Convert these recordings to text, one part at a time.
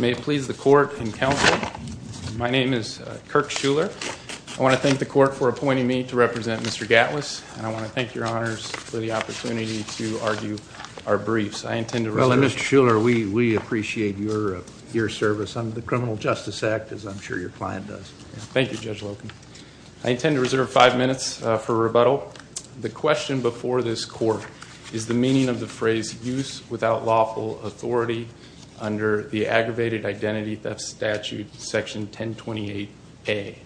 May it please the court and counsel, my name is Kirk Schuller. I want to thank the court for appointing me to represent Mr. Gatwas, and I want to thank your honors for the opportunity to argue our briefs. Well, Mr. Schuller, we appreciate your service on the Criminal Justice Act, as I'm sure your client does. Thank you, Judge Loken. I intend to reserve five minutes for rebuttal. The question before this court is the meaning of the phrase, use without lawful authority under the aggravated identity theft statute, section 1028A.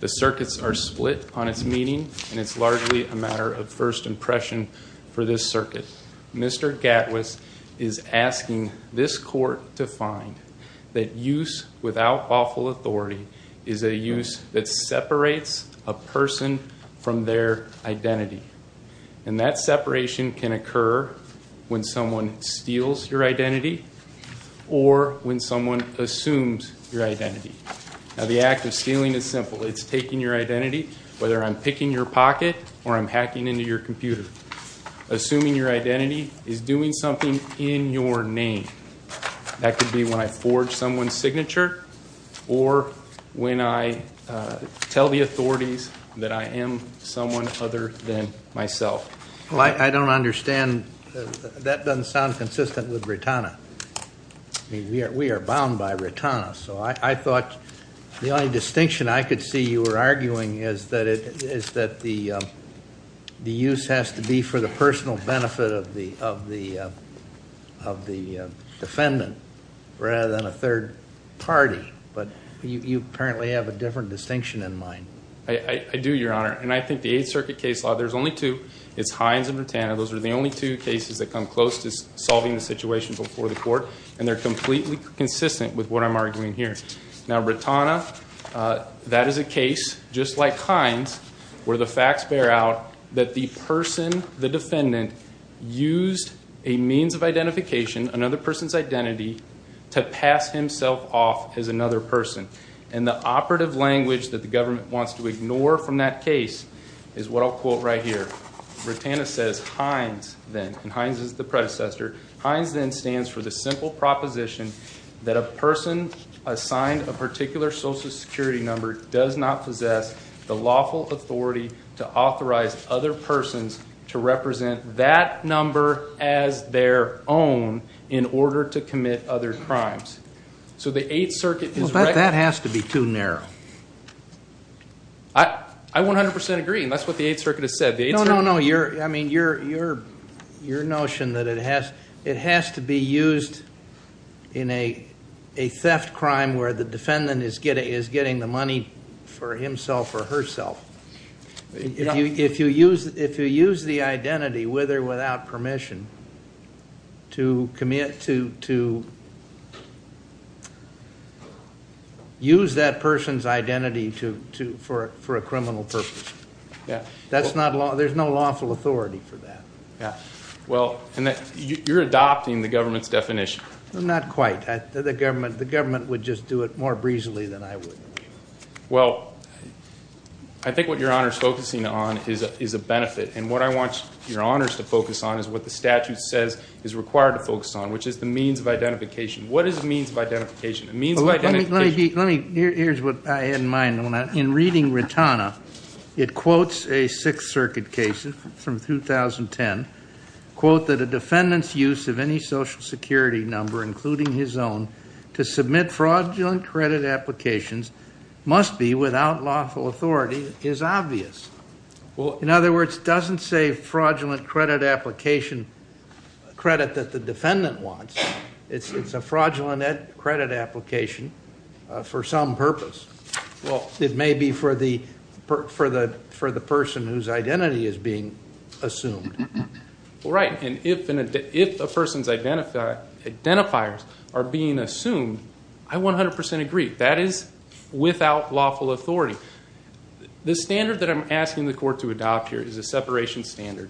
The circuits are split on its meaning, and it's largely a matter of first impression for this circuit. Mr. Gatwas is asking this court to find that use without lawful authority is a use that separates a person from their identity. And that separation can occur when someone steals your identity or when someone assumes your identity. Now, the act of stealing is simple. It's taking your identity, whether I'm picking your pocket or I'm hacking into your computer. Assuming your identity is doing something in your name. That could be when I forge someone's signature or when I tell the authorities that I am someone other than myself. Well, I don't understand. That doesn't sound consistent with Ritana. We are bound by Ritana. So I thought the only distinction I could see you were arguing is that the use has to be for the personal benefit of the defendant rather than a third party. But you apparently have a different distinction in mind. I do, Your Honor. And I think the Eighth Circuit case law, there's only two. It's Hines and Ritana. Those are the only two cases that come close to solving the situation before the court. And they're completely consistent with what I'm arguing here. Now, Ritana, that is a case, just like Hines, where the facts bear out that the person, the defendant, used a means of identification, another person's identity, to pass himself off as another person. And the operative language that the government wants to ignore from that case is what I'll quote right here. Ritana says, Hines then, and Hines is the predecessor, Hines then stands for the simple proposition that a person assigned a particular social security number does not possess the lawful authority to authorize other persons to represent that number as their own in order to commit other crimes. Well, that has to be too narrow. I 100% agree, and that's what the Eighth Circuit has said. No, no, no. I mean, your notion that it has to be used in a theft crime where the defendant is getting the money for himself or herself. If you use the identity, with or without permission, to use that person's identity for a criminal purpose, there's no lawful authority for that. Well, you're adopting the government's definition. Not quite. The government would just do it more breezily than I would. Well, I think what your Honor is focusing on is a benefit. And what I want your Honors to focus on is what the statute says is required to focus on, which is the means of identification. What is the means of identification? Here's what I had in mind. In reading Rotana, it quotes a Sixth Circuit case from 2010. Quote that a defendant's use of any social security number, including his own, to submit fraudulent credit applications must be without lawful authority is obvious. In other words, it doesn't say fraudulent credit application credit that the defendant wants. It's a fraudulent credit application for some purpose. It may be for the person whose identity is being assumed. Right. And if a person's identifiers are being assumed, I 100% agree. That is without lawful authority. The standard that I'm asking the court to adopt here is a separation standard.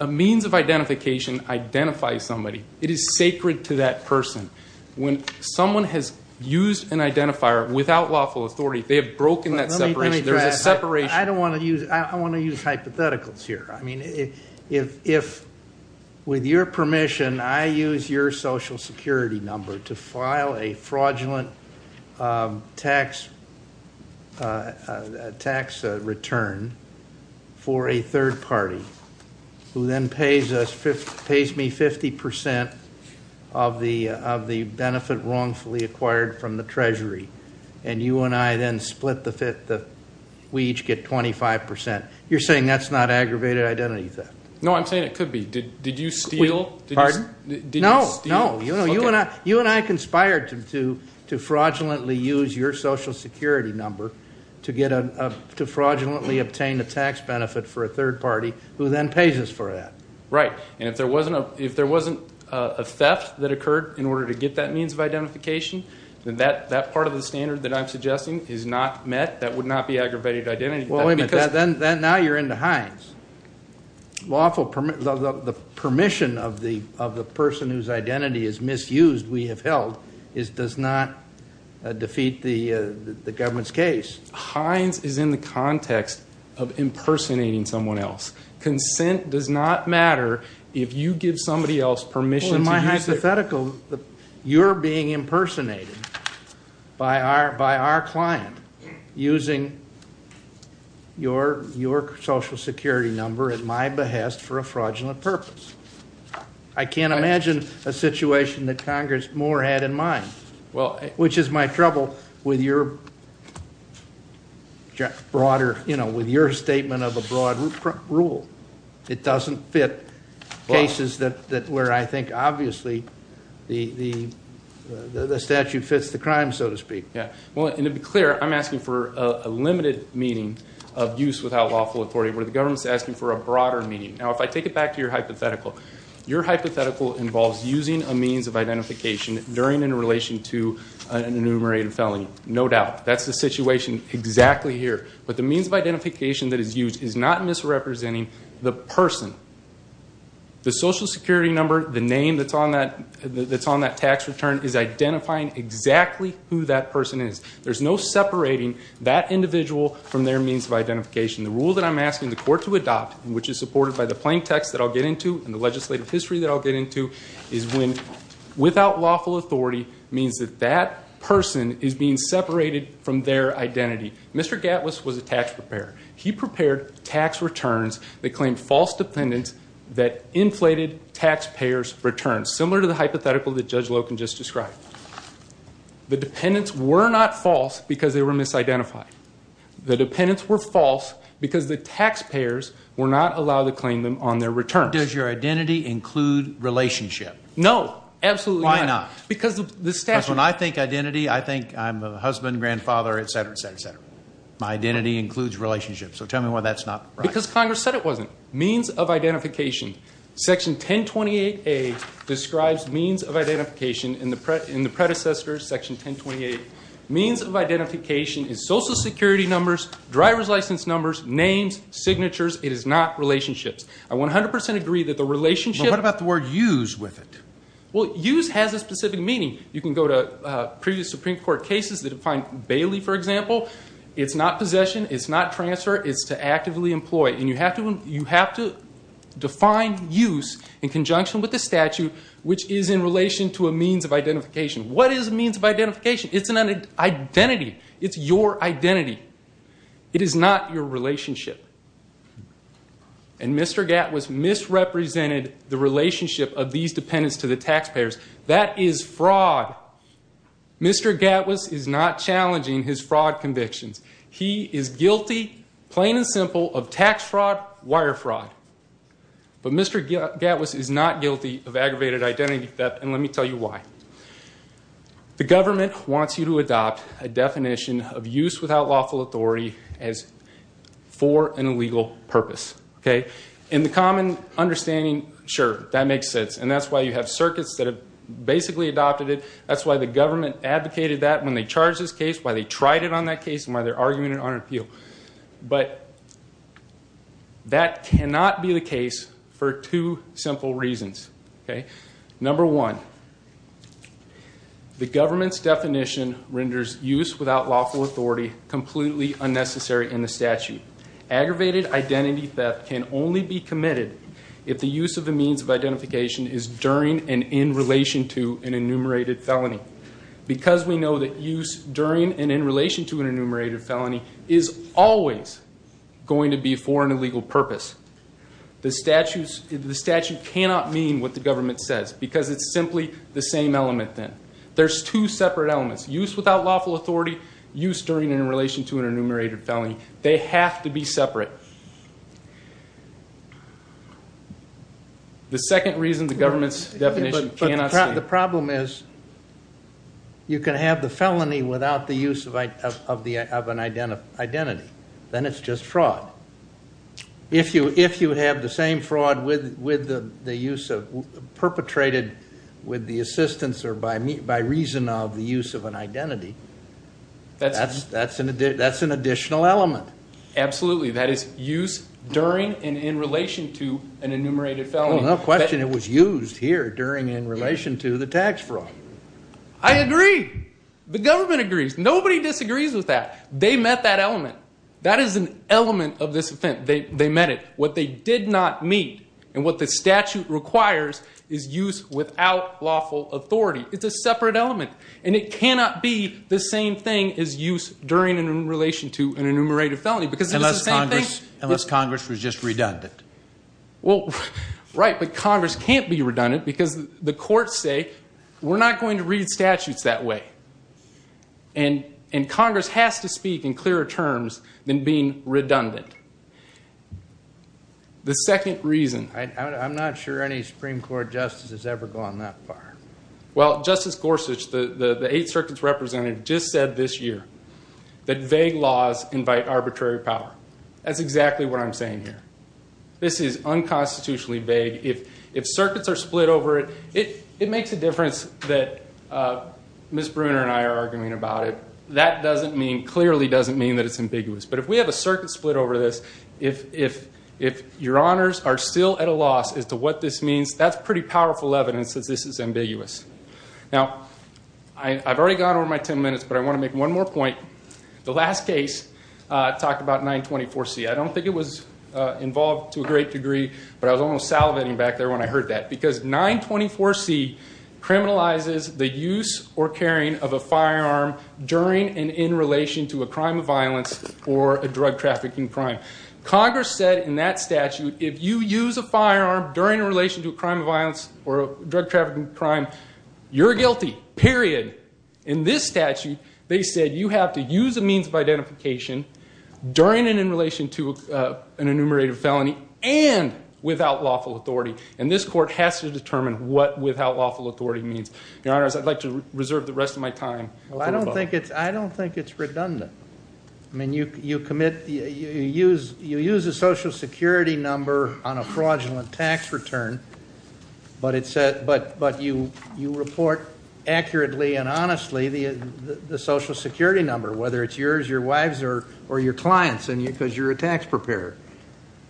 A means of identification identifies somebody. It is sacred to that person. When someone has used an identifier without lawful authority, they have broken that separation. There's a separation. I want to use hypotheticals here. I mean, if, with your permission, I use your social security number to file a fraudulent tax return for a third party, who then pays me 50% of the benefit wrongfully acquired from the treasury, and you and I then split the, we each get 25%. You're saying that's not aggravated identity theft? No, I'm saying it could be. Did you steal? Pardon? Did you steal? No, no. You and I conspired to fraudulently use your social security number to fraudulently obtain a tax benefit for a third party, who then pays us for that. Right. And if there wasn't a theft that occurred in order to get that means of identification, then that part of the standard that I'm suggesting is not met. That would not be aggravated identity theft. Well, wait a minute. Now you're into Hines. The permission of the person whose identity is misused, we have held, does not defeat the government's case. Hines is in the context of impersonating someone else. Consent does not matter if you give somebody else permission to use it. You're being impersonated by our client using your social security number at my behest for a fraudulent purpose. I can't imagine a situation that Congress more had in mind, which is my trouble with your statement of a broad rule. It doesn't fit cases where I think obviously the statute fits the crime, so to speak. Yeah. Well, and to be clear, I'm asking for a limited meaning of use without lawful authority, where the government's asking for a broader meaning. Now, if I take it back to your hypothetical, your hypothetical involves using a means of identification during and in relation to an enumerated felony. No doubt. That's the situation exactly here. But the means of identification that is used is not misrepresenting the person. The social security number, the name that's on that tax return, is identifying exactly who that person is. There's no separating that individual from their means of identification. The rule that I'm asking the court to adopt, which is supported by the plain text that I'll get into and the legislative history that I'll get into, is when without lawful authority means that that person is being separated from their identity. Mr. Gatliss was a tax preparer. He prepared tax returns that claimed false dependents that inflated taxpayers' returns, similar to the hypothetical that Judge Loken just described. The dependents were not false because they were misidentified. The dependents were false because the taxpayers were not allowed to claim them on their returns. Does your identity include relationship? No. Absolutely not. Why not? Because when I think identity, I think I'm a husband, grandfather, et cetera, et cetera, et cetera. My identity includes relationship. So tell me why that's not right. Because Congress said it wasn't. Means of identification. Section 1028A describes means of identification in the predecessor, section 1028. Means of identification is social security numbers, driver's license numbers, names, signatures. It is not relationships. I 100% agree that the relationship- But what about the word use with it? Well, use has a specific meaning. You can go to previous Supreme Court cases that defined Bailey, for example. It's not possession. It's not transfer. It's to actively employ. And you have to define use in conjunction with the statute, which is in relation to a means of identification. What is a means of identification? It's an identity. It's your identity. It is not your relationship. And Mr. Gatwiss misrepresented the relationship of these dependents to the taxpayers. That is fraud. Mr. Gatwiss is not challenging his fraud convictions. He is guilty, plain and simple, of tax fraud, wire fraud. But Mr. Gatwiss is not guilty of aggravated identity theft, and let me tell you why. The government wants you to adopt a definition of use without lawful authority as for an illegal purpose. In the common understanding, sure, that makes sense. And that's why you have circuits that have basically adopted it. That's why the government advocated that when they charged this case, why they tried it on that case, and why they're arguing it on appeal. But that cannot be the case for two simple reasons. Number one, the government's definition renders use without lawful authority completely unnecessary in the statute. Aggravated identity theft can only be committed if the use of a means of identification is during and in relation to an enumerated felony. Because we know that use during and in relation to an enumerated felony is always going to be for an illegal purpose. The statute cannot mean what the government says, because it's simply the same element then. There's two separate elements, use without lawful authority, use during and in relation to an enumerated felony. They have to be separate. The second reason the government's definition cannot be. But the problem is you can have the felony without the use of an identity. Then it's just fraud. If you have the same fraud perpetrated with the assistance or by reason of the use of an identity, that's an additional element. Absolutely. That is use during and in relation to an enumerated felony. No question. It was used here during and in relation to the tax fraud. I agree. The government agrees. Nobody disagrees with that. They met that element. That is an element of this offense. They met it. What they did not meet and what the statute requires is use without lawful authority. It's a separate element. And it cannot be the same thing as use during and in relation to an enumerated felony, because it's the same thing. Unless Congress was just redundant. Right, but Congress can't be redundant, because the courts say, we're not going to read statutes that way. And Congress has to speak in clearer terms than being redundant. The second reason. I'm not sure any Supreme Court justice has ever gone that far. Well, Justice Gorsuch, the Eighth Circuit's representative, just said this year that vague laws invite arbitrary power. That's exactly what I'm saying here. This is unconstitutionally vague. If circuits are split over it, it makes a difference that Ms. Bruner and I are arguing about it. That clearly doesn't mean that it's ambiguous. But if we have a circuit split over this, if your honors are still at a loss as to what this means, that's pretty powerful evidence that this is ambiguous. Now, I've already gone over my ten minutes, but I want to make one more point. The last case talked about 924C. I don't think it was involved to a great degree, but I was almost salivating back there when I heard that. Because 924C criminalizes the use or carrying of a firearm during and in relation to a crime of violence or a drug trafficking crime. Congress said in that statute, if you use a firearm during a relation to a crime of violence or a drug trafficking crime, you're guilty, period. In this statute, they said you have to use a means of identification during and in relation to an enumerated felony and without lawful authority. And this court has to determine what without lawful authority means. Your honors, I'd like to reserve the rest of my time. I don't think it's redundant. I mean, you use a social security number on a fraudulent tax return, but you report accurately and honestly the social security number, whether it's yours, your wife's, or your client's, because you're a tax preparer.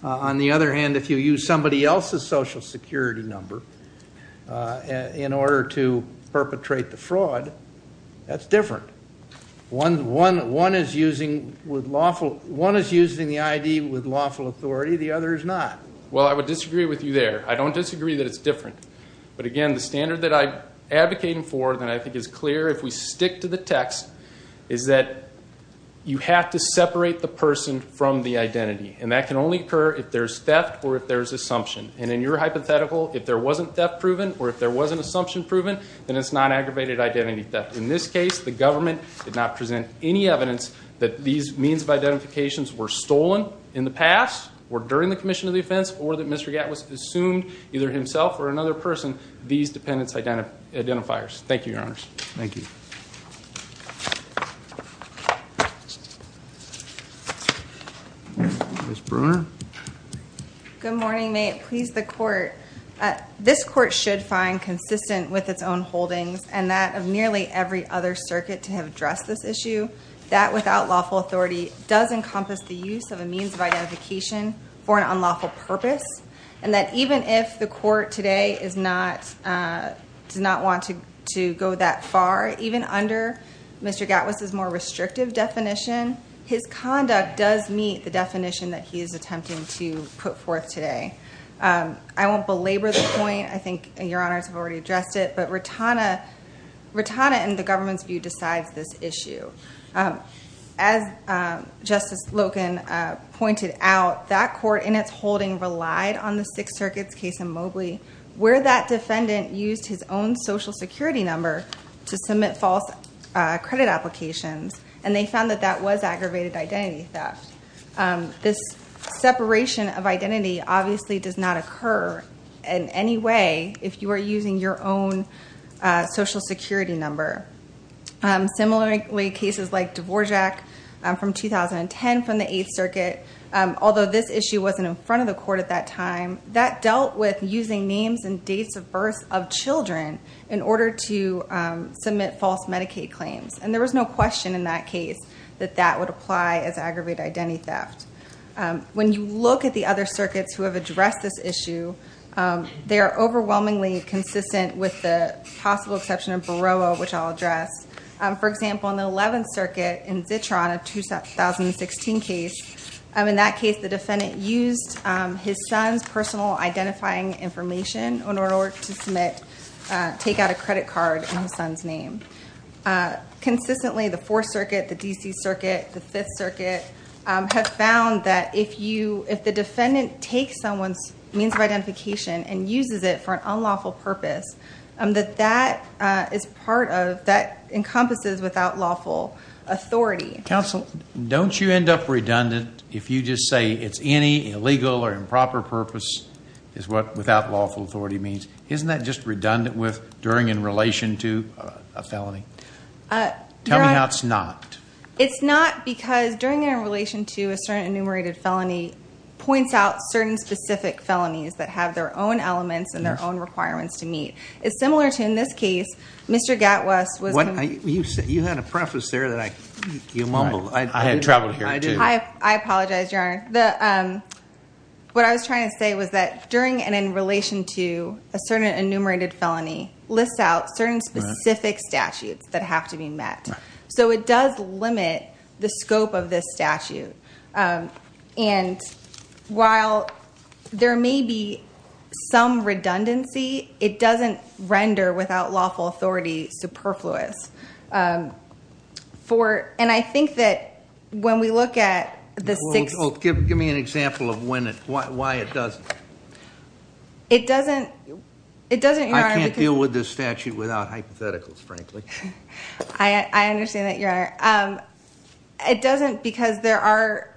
On the other hand, if you use somebody else's social security number in order to perpetrate the fraud, that's different. One is using the ID with lawful authority. The other is not. Well, I would disagree with you there. I don't disagree that it's different. But again, the standard that I'm advocating for that I think is clear if we stick to the text is that you have to separate the person from the identity. And that can only occur if there's theft or if there's assumption. And in your hypothetical, if there wasn't theft proven or if there wasn't assumption proven, then it's non-aggravated identity theft. In this case, the government did not present any evidence that these means of identifications were stolen in the past or during the commission of the offense or that Mr. Gatt was assumed, either himself or another person, these dependence identifiers. Thank you, Your Honors. Thank you. Ms. Bruner. Good morning. May it please the Court. This Court should find consistent with its own holdings and that of nearly every other circuit to have addressed this issue that without lawful authority does encompass the use of a means of identification for an unlawful purpose. And that even if the Court today does not want to go that far, even under Mr. Gatt was his more restrictive definition, his conduct does meet the definition that he is attempting to put forth today. I won't belabor the point. I think Your Honors have already addressed it. But Rotana in the government's view decides this issue. As Justice Loken pointed out, that Court in its holding relied on the Sixth Circuit's case in Mobley where that defendant used his own Social Security number to submit false credit applications. And they found that that was aggravated identity theft. This separation of identity obviously does not occur in any way if you are using your own Social Security number. Similarly, cases like Dvorak from 2010 from the Eighth Circuit, although this issue wasn't in front of the Court at that time, that dealt with using names and dates of birth of children in order to submit false Medicaid claims. And there was no question in that case that that would apply as aggravated identity theft. When you look at the other circuits who have addressed this issue, they are overwhelmingly consistent with the possible exception of Baroa, which I'll address. For example, in the Eleventh Circuit in Zitron, a 2016 case, in that case the defendant used his son's personal identifying information in order to take out a credit card in his son's name. Consistently, the Fourth Circuit, the D.C. Circuit, the Fifth Circuit have found that if the defendant takes someone's means of identification and uses it for an unlawful purpose, that that is part of, that encompasses without lawful authority. Counsel, don't you end up redundant if you just say it's any illegal or improper purpose is what without lawful authority means? Isn't that just redundant with during and in relation to a felony? Tell me how it's not. It's not because during and in relation to a certain enumerated felony points out certain specific felonies that have their own elements and their own requirements to meet. It's similar to in this case, Mr. Gatwes was... You had a preface there that I, you mumbled. I had traveled here too. I apologize, Your Honor. What I was trying to say was that during and in relation to a certain enumerated felony lists out certain specific statutes that have to be met. So it does limit the scope of this statute. And while there may be some redundancy, it doesn't render without lawful authority superfluous. And I think that when we look at the six... Give me an example of why it doesn't. It doesn't... I can't deal with this statute without hypotheticals, frankly. I understand that, Your Honor. It doesn't because there are,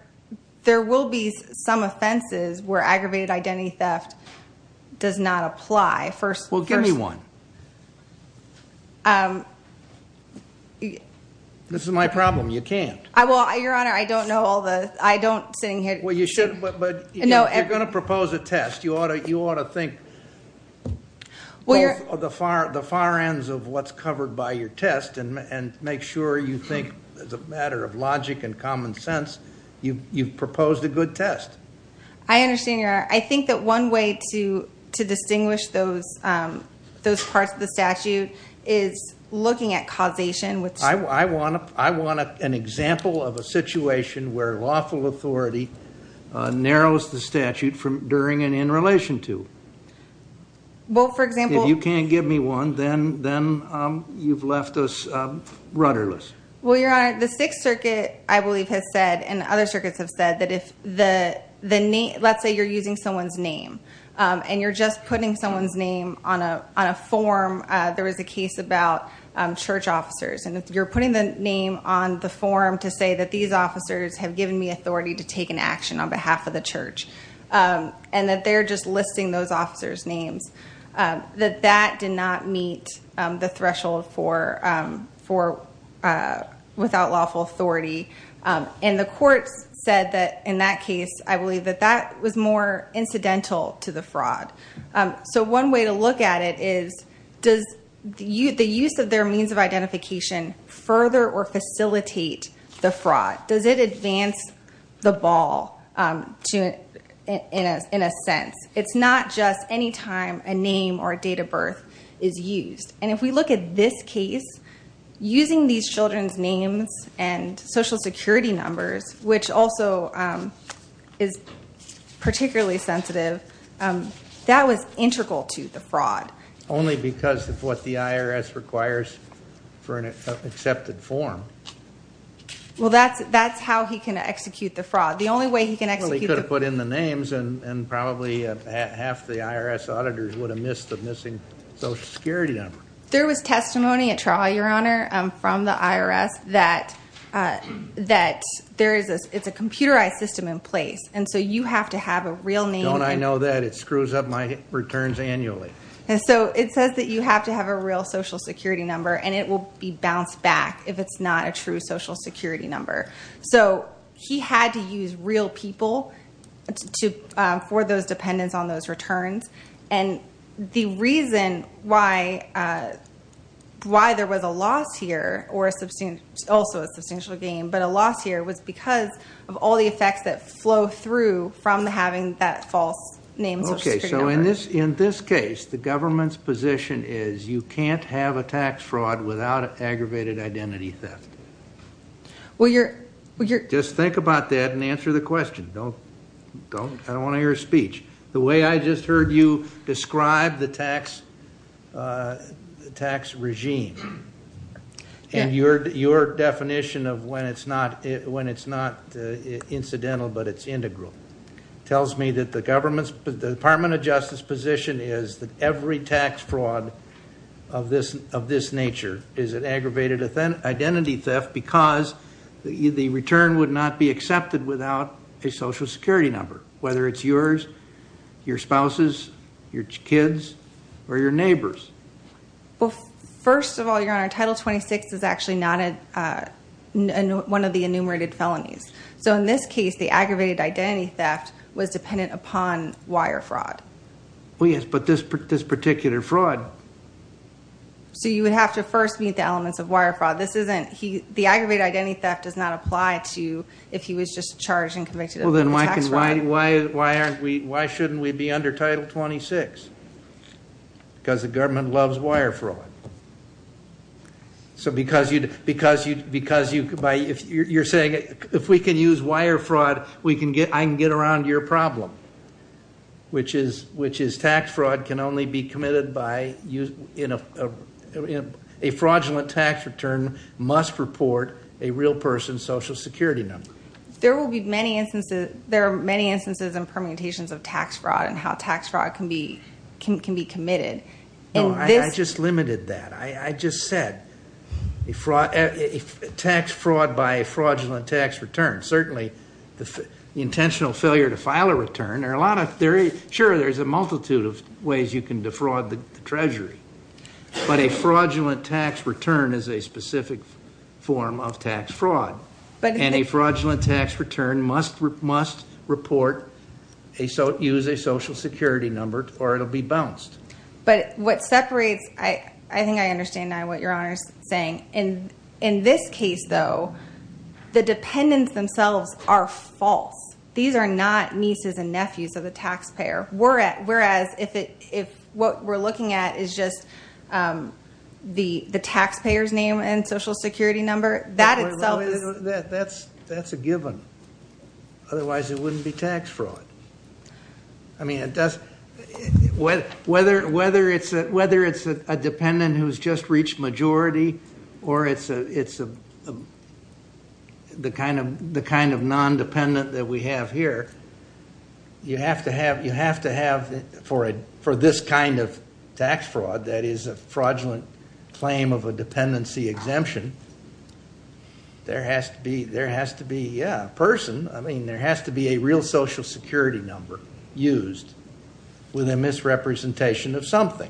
there will be some offenses where aggravated identity theft does not apply. Well, give me one. This is my problem. You can't. Well, Your Honor, I don't know all the... I don't sitting here... Well, you should, but you're going to propose a test. You ought to think of the far ends of what's covered by your test and make sure you think as a matter of logic and common sense, you've proposed a good test. I understand, Your Honor. I think that one way to distinguish those parts of the statute is looking at causation. I want an example of a situation where lawful authority narrows the statute during and in relation to. Well, for example... If you can't give me one, then you've left us rudderless. Well, Your Honor, the Sixth Circuit, I believe, has said, and other circuits have said, that if the name... Let's say you're using someone's name, and you're just putting someone's name on a form. There was a case about church officers, and if you're putting the name on the form to say that these officers have given me authority to take an action on behalf of the church, and that they're just listing those officers' names, that that did not meet the threshold for without lawful authority. And the courts said that, in that case, I believe that that was more incidental to the fraud. So one way to look at it is, does the use of their means of identification further or facilitate the fraud? Does it advance the ball, in a sense? It's not just any time a name or date of birth is used. And if we look at this case, using these children's names and Social Security numbers, which also is particularly sensitive, that was integral to the fraud. Only because of what the IRS requires for an accepted form. Well, that's how he can execute the fraud. The only way he can execute the fraud... Well, he could have put in the names, and probably half the IRS auditors would have missed the missing Social Security number. There was testimony at trial, Your Honor, from the IRS, that it's a computerized system in place. And so you have to have a real name... Don't I know that? It screws up my returns annually. And so it says that you have to have a real Social Security number, and it will be bounced back if it's not a true Social Security number. So he had to use real people for those dependents on those returns. And the reason why there was a loss here, or also a substantial gain, but a loss here, was because of all the effects that flow through from having that false name Social Security number. So in this case, the government's position is you can't have a tax fraud without aggravated identity theft. Just think about that and answer the question. I don't want to hear a speech. The way I just heard you describe the tax regime, and your definition of when it's not incidental but it's integral, tells me that the Department of Justice's position is that every tax fraud of this nature is an aggravated identity theft because the return would not be accepted without a Social Security number, whether it's yours, your spouse's, your kid's, or your neighbor's. Well, first of all, Your Honor, Title 26 is actually not one of the enumerated felonies. So in this case, the aggravated identity theft was dependent upon wire fraud. Well, yes, but this particular fraud. So you would have to first meet the elements of wire fraud. The aggravated identity theft does not apply to if he was just charged and convicted of tax fraud. Well, then why shouldn't we be under Title 26? Because the government loves wire fraud. So because you're saying, if we can use wire fraud, I can get around your problem, which is tax fraud can only be committed by a fraudulent tax return must report a real person's Social Security number. There are many instances and permutations of tax fraud and how tax fraud can be committed. No, I just limited that. I just said a tax fraud by a fraudulent tax return. Certainly, the intentional failure to file a return, there are a lot of theories. Sure, there's a multitude of ways you can defraud the Treasury. But a fraudulent tax return is a specific form of tax fraud. And a fraudulent tax return must report, use a Social Security number, or it'll be bounced. But what separates, I think I understand now what Your Honor is saying. In this case, though, the dependents themselves are false. These are not nieces and nephews of the taxpayer. Whereas if what we're looking at is just the taxpayer's name and Social Security number, that itself is- That's a given. Otherwise, it wouldn't be tax fraud. I mean, whether it's a dependent who's just reached majority or it's the kind of non-dependent that we have here, you have to have, for this kind of tax fraud that is a fraudulent claim of a dependency exemption, there has to be, yeah, a person. I mean, there has to be a real Social Security number used with a misrepresentation of something.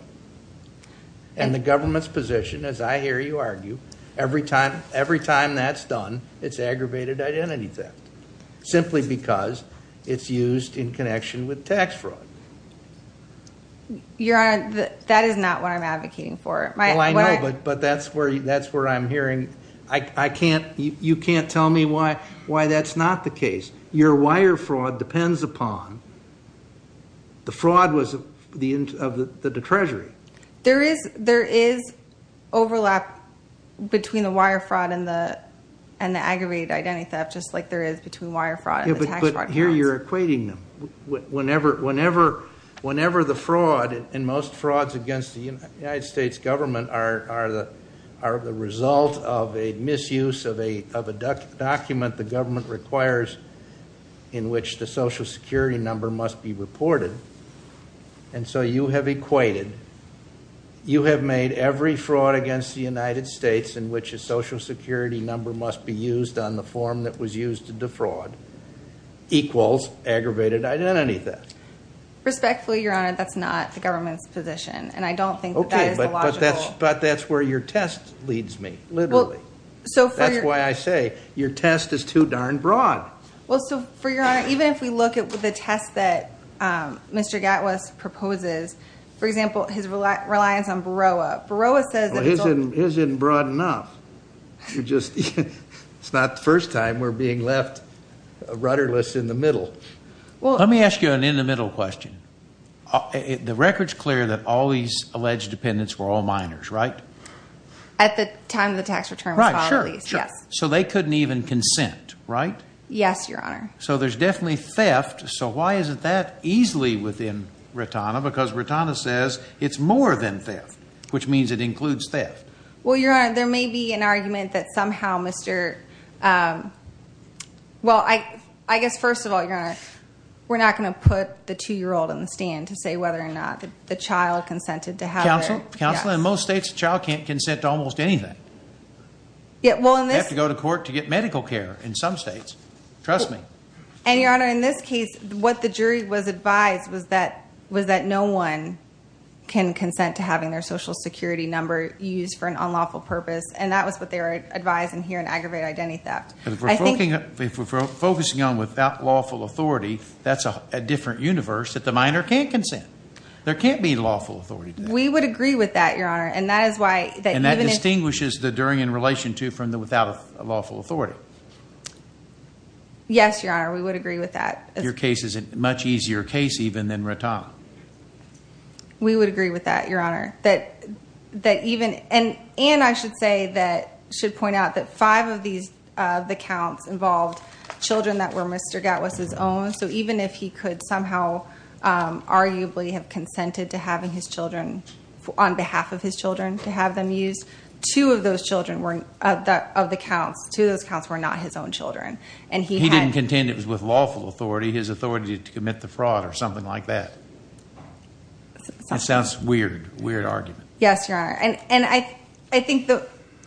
And the government's position, as I hear you argue, every time that's done, it's aggravated identity theft. Simply because it's used in connection with tax fraud. Your Honor, that is not what I'm advocating for. Well, I know, but that's where I'm hearing- You can't tell me why that's not the case. Your wire fraud depends upon the fraud of the Treasury. There is overlap between the wire fraud and the aggravated identity theft, just like there is between wire fraud and tax fraud. But here you're equating them. Whenever the fraud, and most frauds against the United States government, are the result of a misuse of a document the government requires in which the Social Security number must be reported, and so you have equated, you have made every fraud against the United States in which a Social Security number must be used on the form that was used to defraud equals aggravated identity theft. Respectfully, Your Honor, that's not the government's position, and I don't think that that is the logical- Okay, but that's where your test leads me, literally. That's why I say your test is too darn broad. Well, so for Your Honor, even if we look at the test that Mr. Gatwes proposes, for example, his reliance on BROA. BROA says- Well, his isn't broad enough. It's not the first time we're being left rudderless in the middle. Let me ask you an in-the-middle question. The record's clear that all these alleged dependents were all minors, right? At the time the tax return was filed, at least, yes. So they couldn't even consent, right? Yes, Your Honor. So there's definitely theft. So why is it that easily within RITANA? Because RITANA says it's more than theft, which means it includes theft. Well, Your Honor, there may be an argument that somehow Mr. Well, I guess first of all, Your Honor, we're not going to put the two-year-old on the stand to say whether or not the child consented to have their- Counselor, in most states, a child can't consent to almost anything. You have to go to court to get medical care in some states. Trust me. And, Your Honor, in this case, what the jury was advised was that no one can consent to having their social security number used for an unlawful purpose. And that was what they were advising here in aggravated identity theft. If we're focusing on without lawful authority, that's a different universe that the minor can't consent. There can't be lawful authority to that. We would agree with that, Your Honor. And that is why- And that distinguishes the during in relation to from the without lawful authority. Yes, Your Honor, we would agree with that. Your case is a much easier case even than RITANA. We would agree with that, Your Honor. And I should point out that five of the counts involved children that were Mr. Gatwiss's own. So even if he could somehow arguably have consented to having his children on behalf of his children to have them used, two of those counts were not his own children. He didn't contend it was with lawful authority. His authority to commit the fraud or something like that. That sounds weird. Weird argument. Yes, Your Honor. And I think that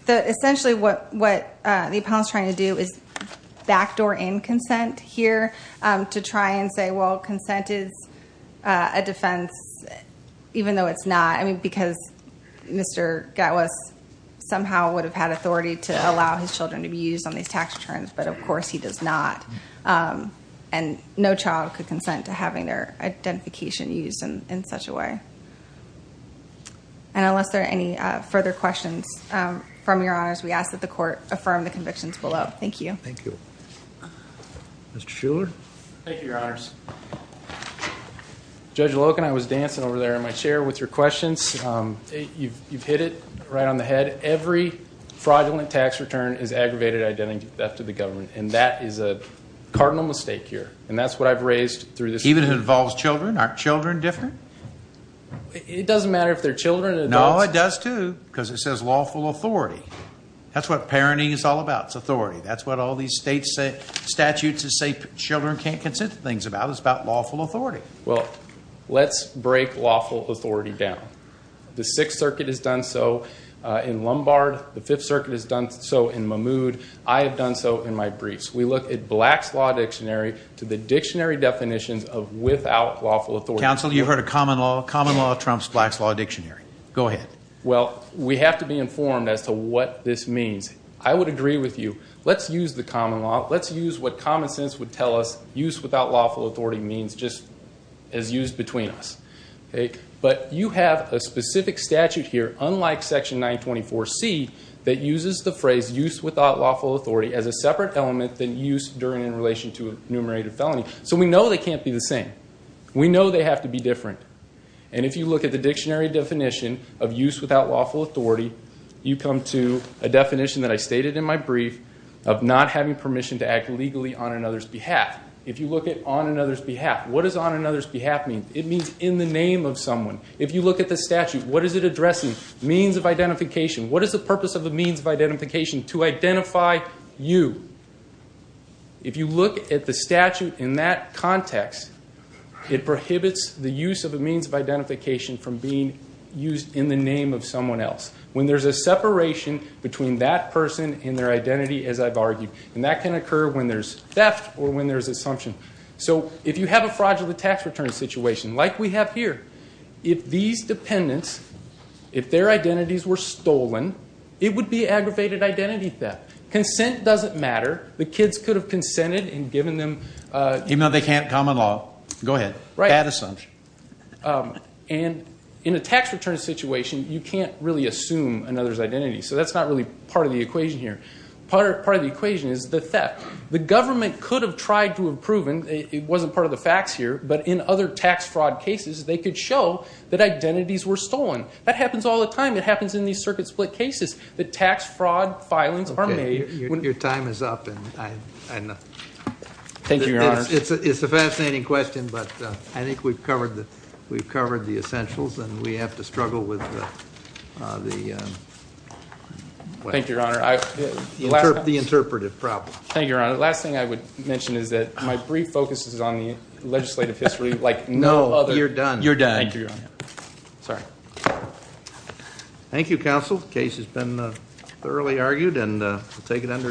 essentially what the appellant is trying to do is backdoor in consent here to try and say, well, consent is a defense even though it's not. I mean, because Mr. Gatwiss somehow would have had authority to allow his children to be used on these tax returns. But, of course, he does not. And no child could consent to having their identification used in such a way. And unless there are any further questions from Your Honors, we ask that the court affirm the convictions below. Thank you. Thank you. Mr. Shuler. Thank you, Your Honors. Judge Loken, I was dancing over there in my chair with your questions. You've hit it right on the head. Every fraudulent tax return is aggravated identity theft of the government. And that is a cardinal mistake here. And that's what I've raised through this court. Even if it involves children? Aren't children different? It doesn't matter if they're children or adults. No, it does, too, because it says lawful authority. That's what parenting is all about. It's authority. That's what all these statutes that say children can't consent to things about. It's about lawful authority. Well, let's break lawful authority down. The Sixth Circuit has done so in Lombard. The Fifth Circuit has done so in Mahmoud. I have done so in my briefs. We look at Black's Law Dictionary to the dictionary definitions of without lawful authority. Counsel, you heard of common law. Common law trumps Black's Law Dictionary. Go ahead. Well, we have to be informed as to what this means. I would agree with you. Let's use the common law. Let's use what common sense would tell us use without lawful authority means just as used between us. But you have a specific statute here, unlike Section 924C, that uses the phrase use without lawful authority as a separate element than use during and in relation to a enumerated felony. So we know they can't be the same. We know they have to be different. And if you look at the dictionary definition of use without lawful authority, you come to a definition that I stated in my brief of not having permission to act legally on another's behalf. If you look at on another's behalf, what does on another's behalf mean? It means in the name of someone. If you look at the statute, what is it addressing? Means of identification. What is the purpose of a means of identification? To identify you. If you look at the statute in that context, it prohibits the use of a means of identification from being used in the name of someone else. When there's a separation between that person and their identity, as I've argued, and that can occur when there's theft or when there's assumption. So if you have a fraudulent tax return situation like we have here, if these dependents, if their identities were stolen, it would be aggravated identity theft. Consent doesn't matter. The kids could have consented and given them. Even though they can't come in law. Go ahead. Bad assumption. And in a tax return situation, you can't really assume another's identity. So that's not really part of the equation here. Part of the equation is the theft. The government could have tried to have proven, it wasn't part of the facts here, but in other tax fraud cases they could show that identities were stolen. That happens all the time. It happens in these circuit split cases. The tax fraud filings are made. Your time is up. It's a fascinating question, but I think we've covered the essentials and we have to struggle with the interpretive problem. Thank you, Your Honor. The last thing I would mention is that my brief focus is on the legislative history. No, you're done. You're done. Thank you, Your Honor. Sorry. Thank you, counsel. The case has been thoroughly argued and we'll take it under advisement.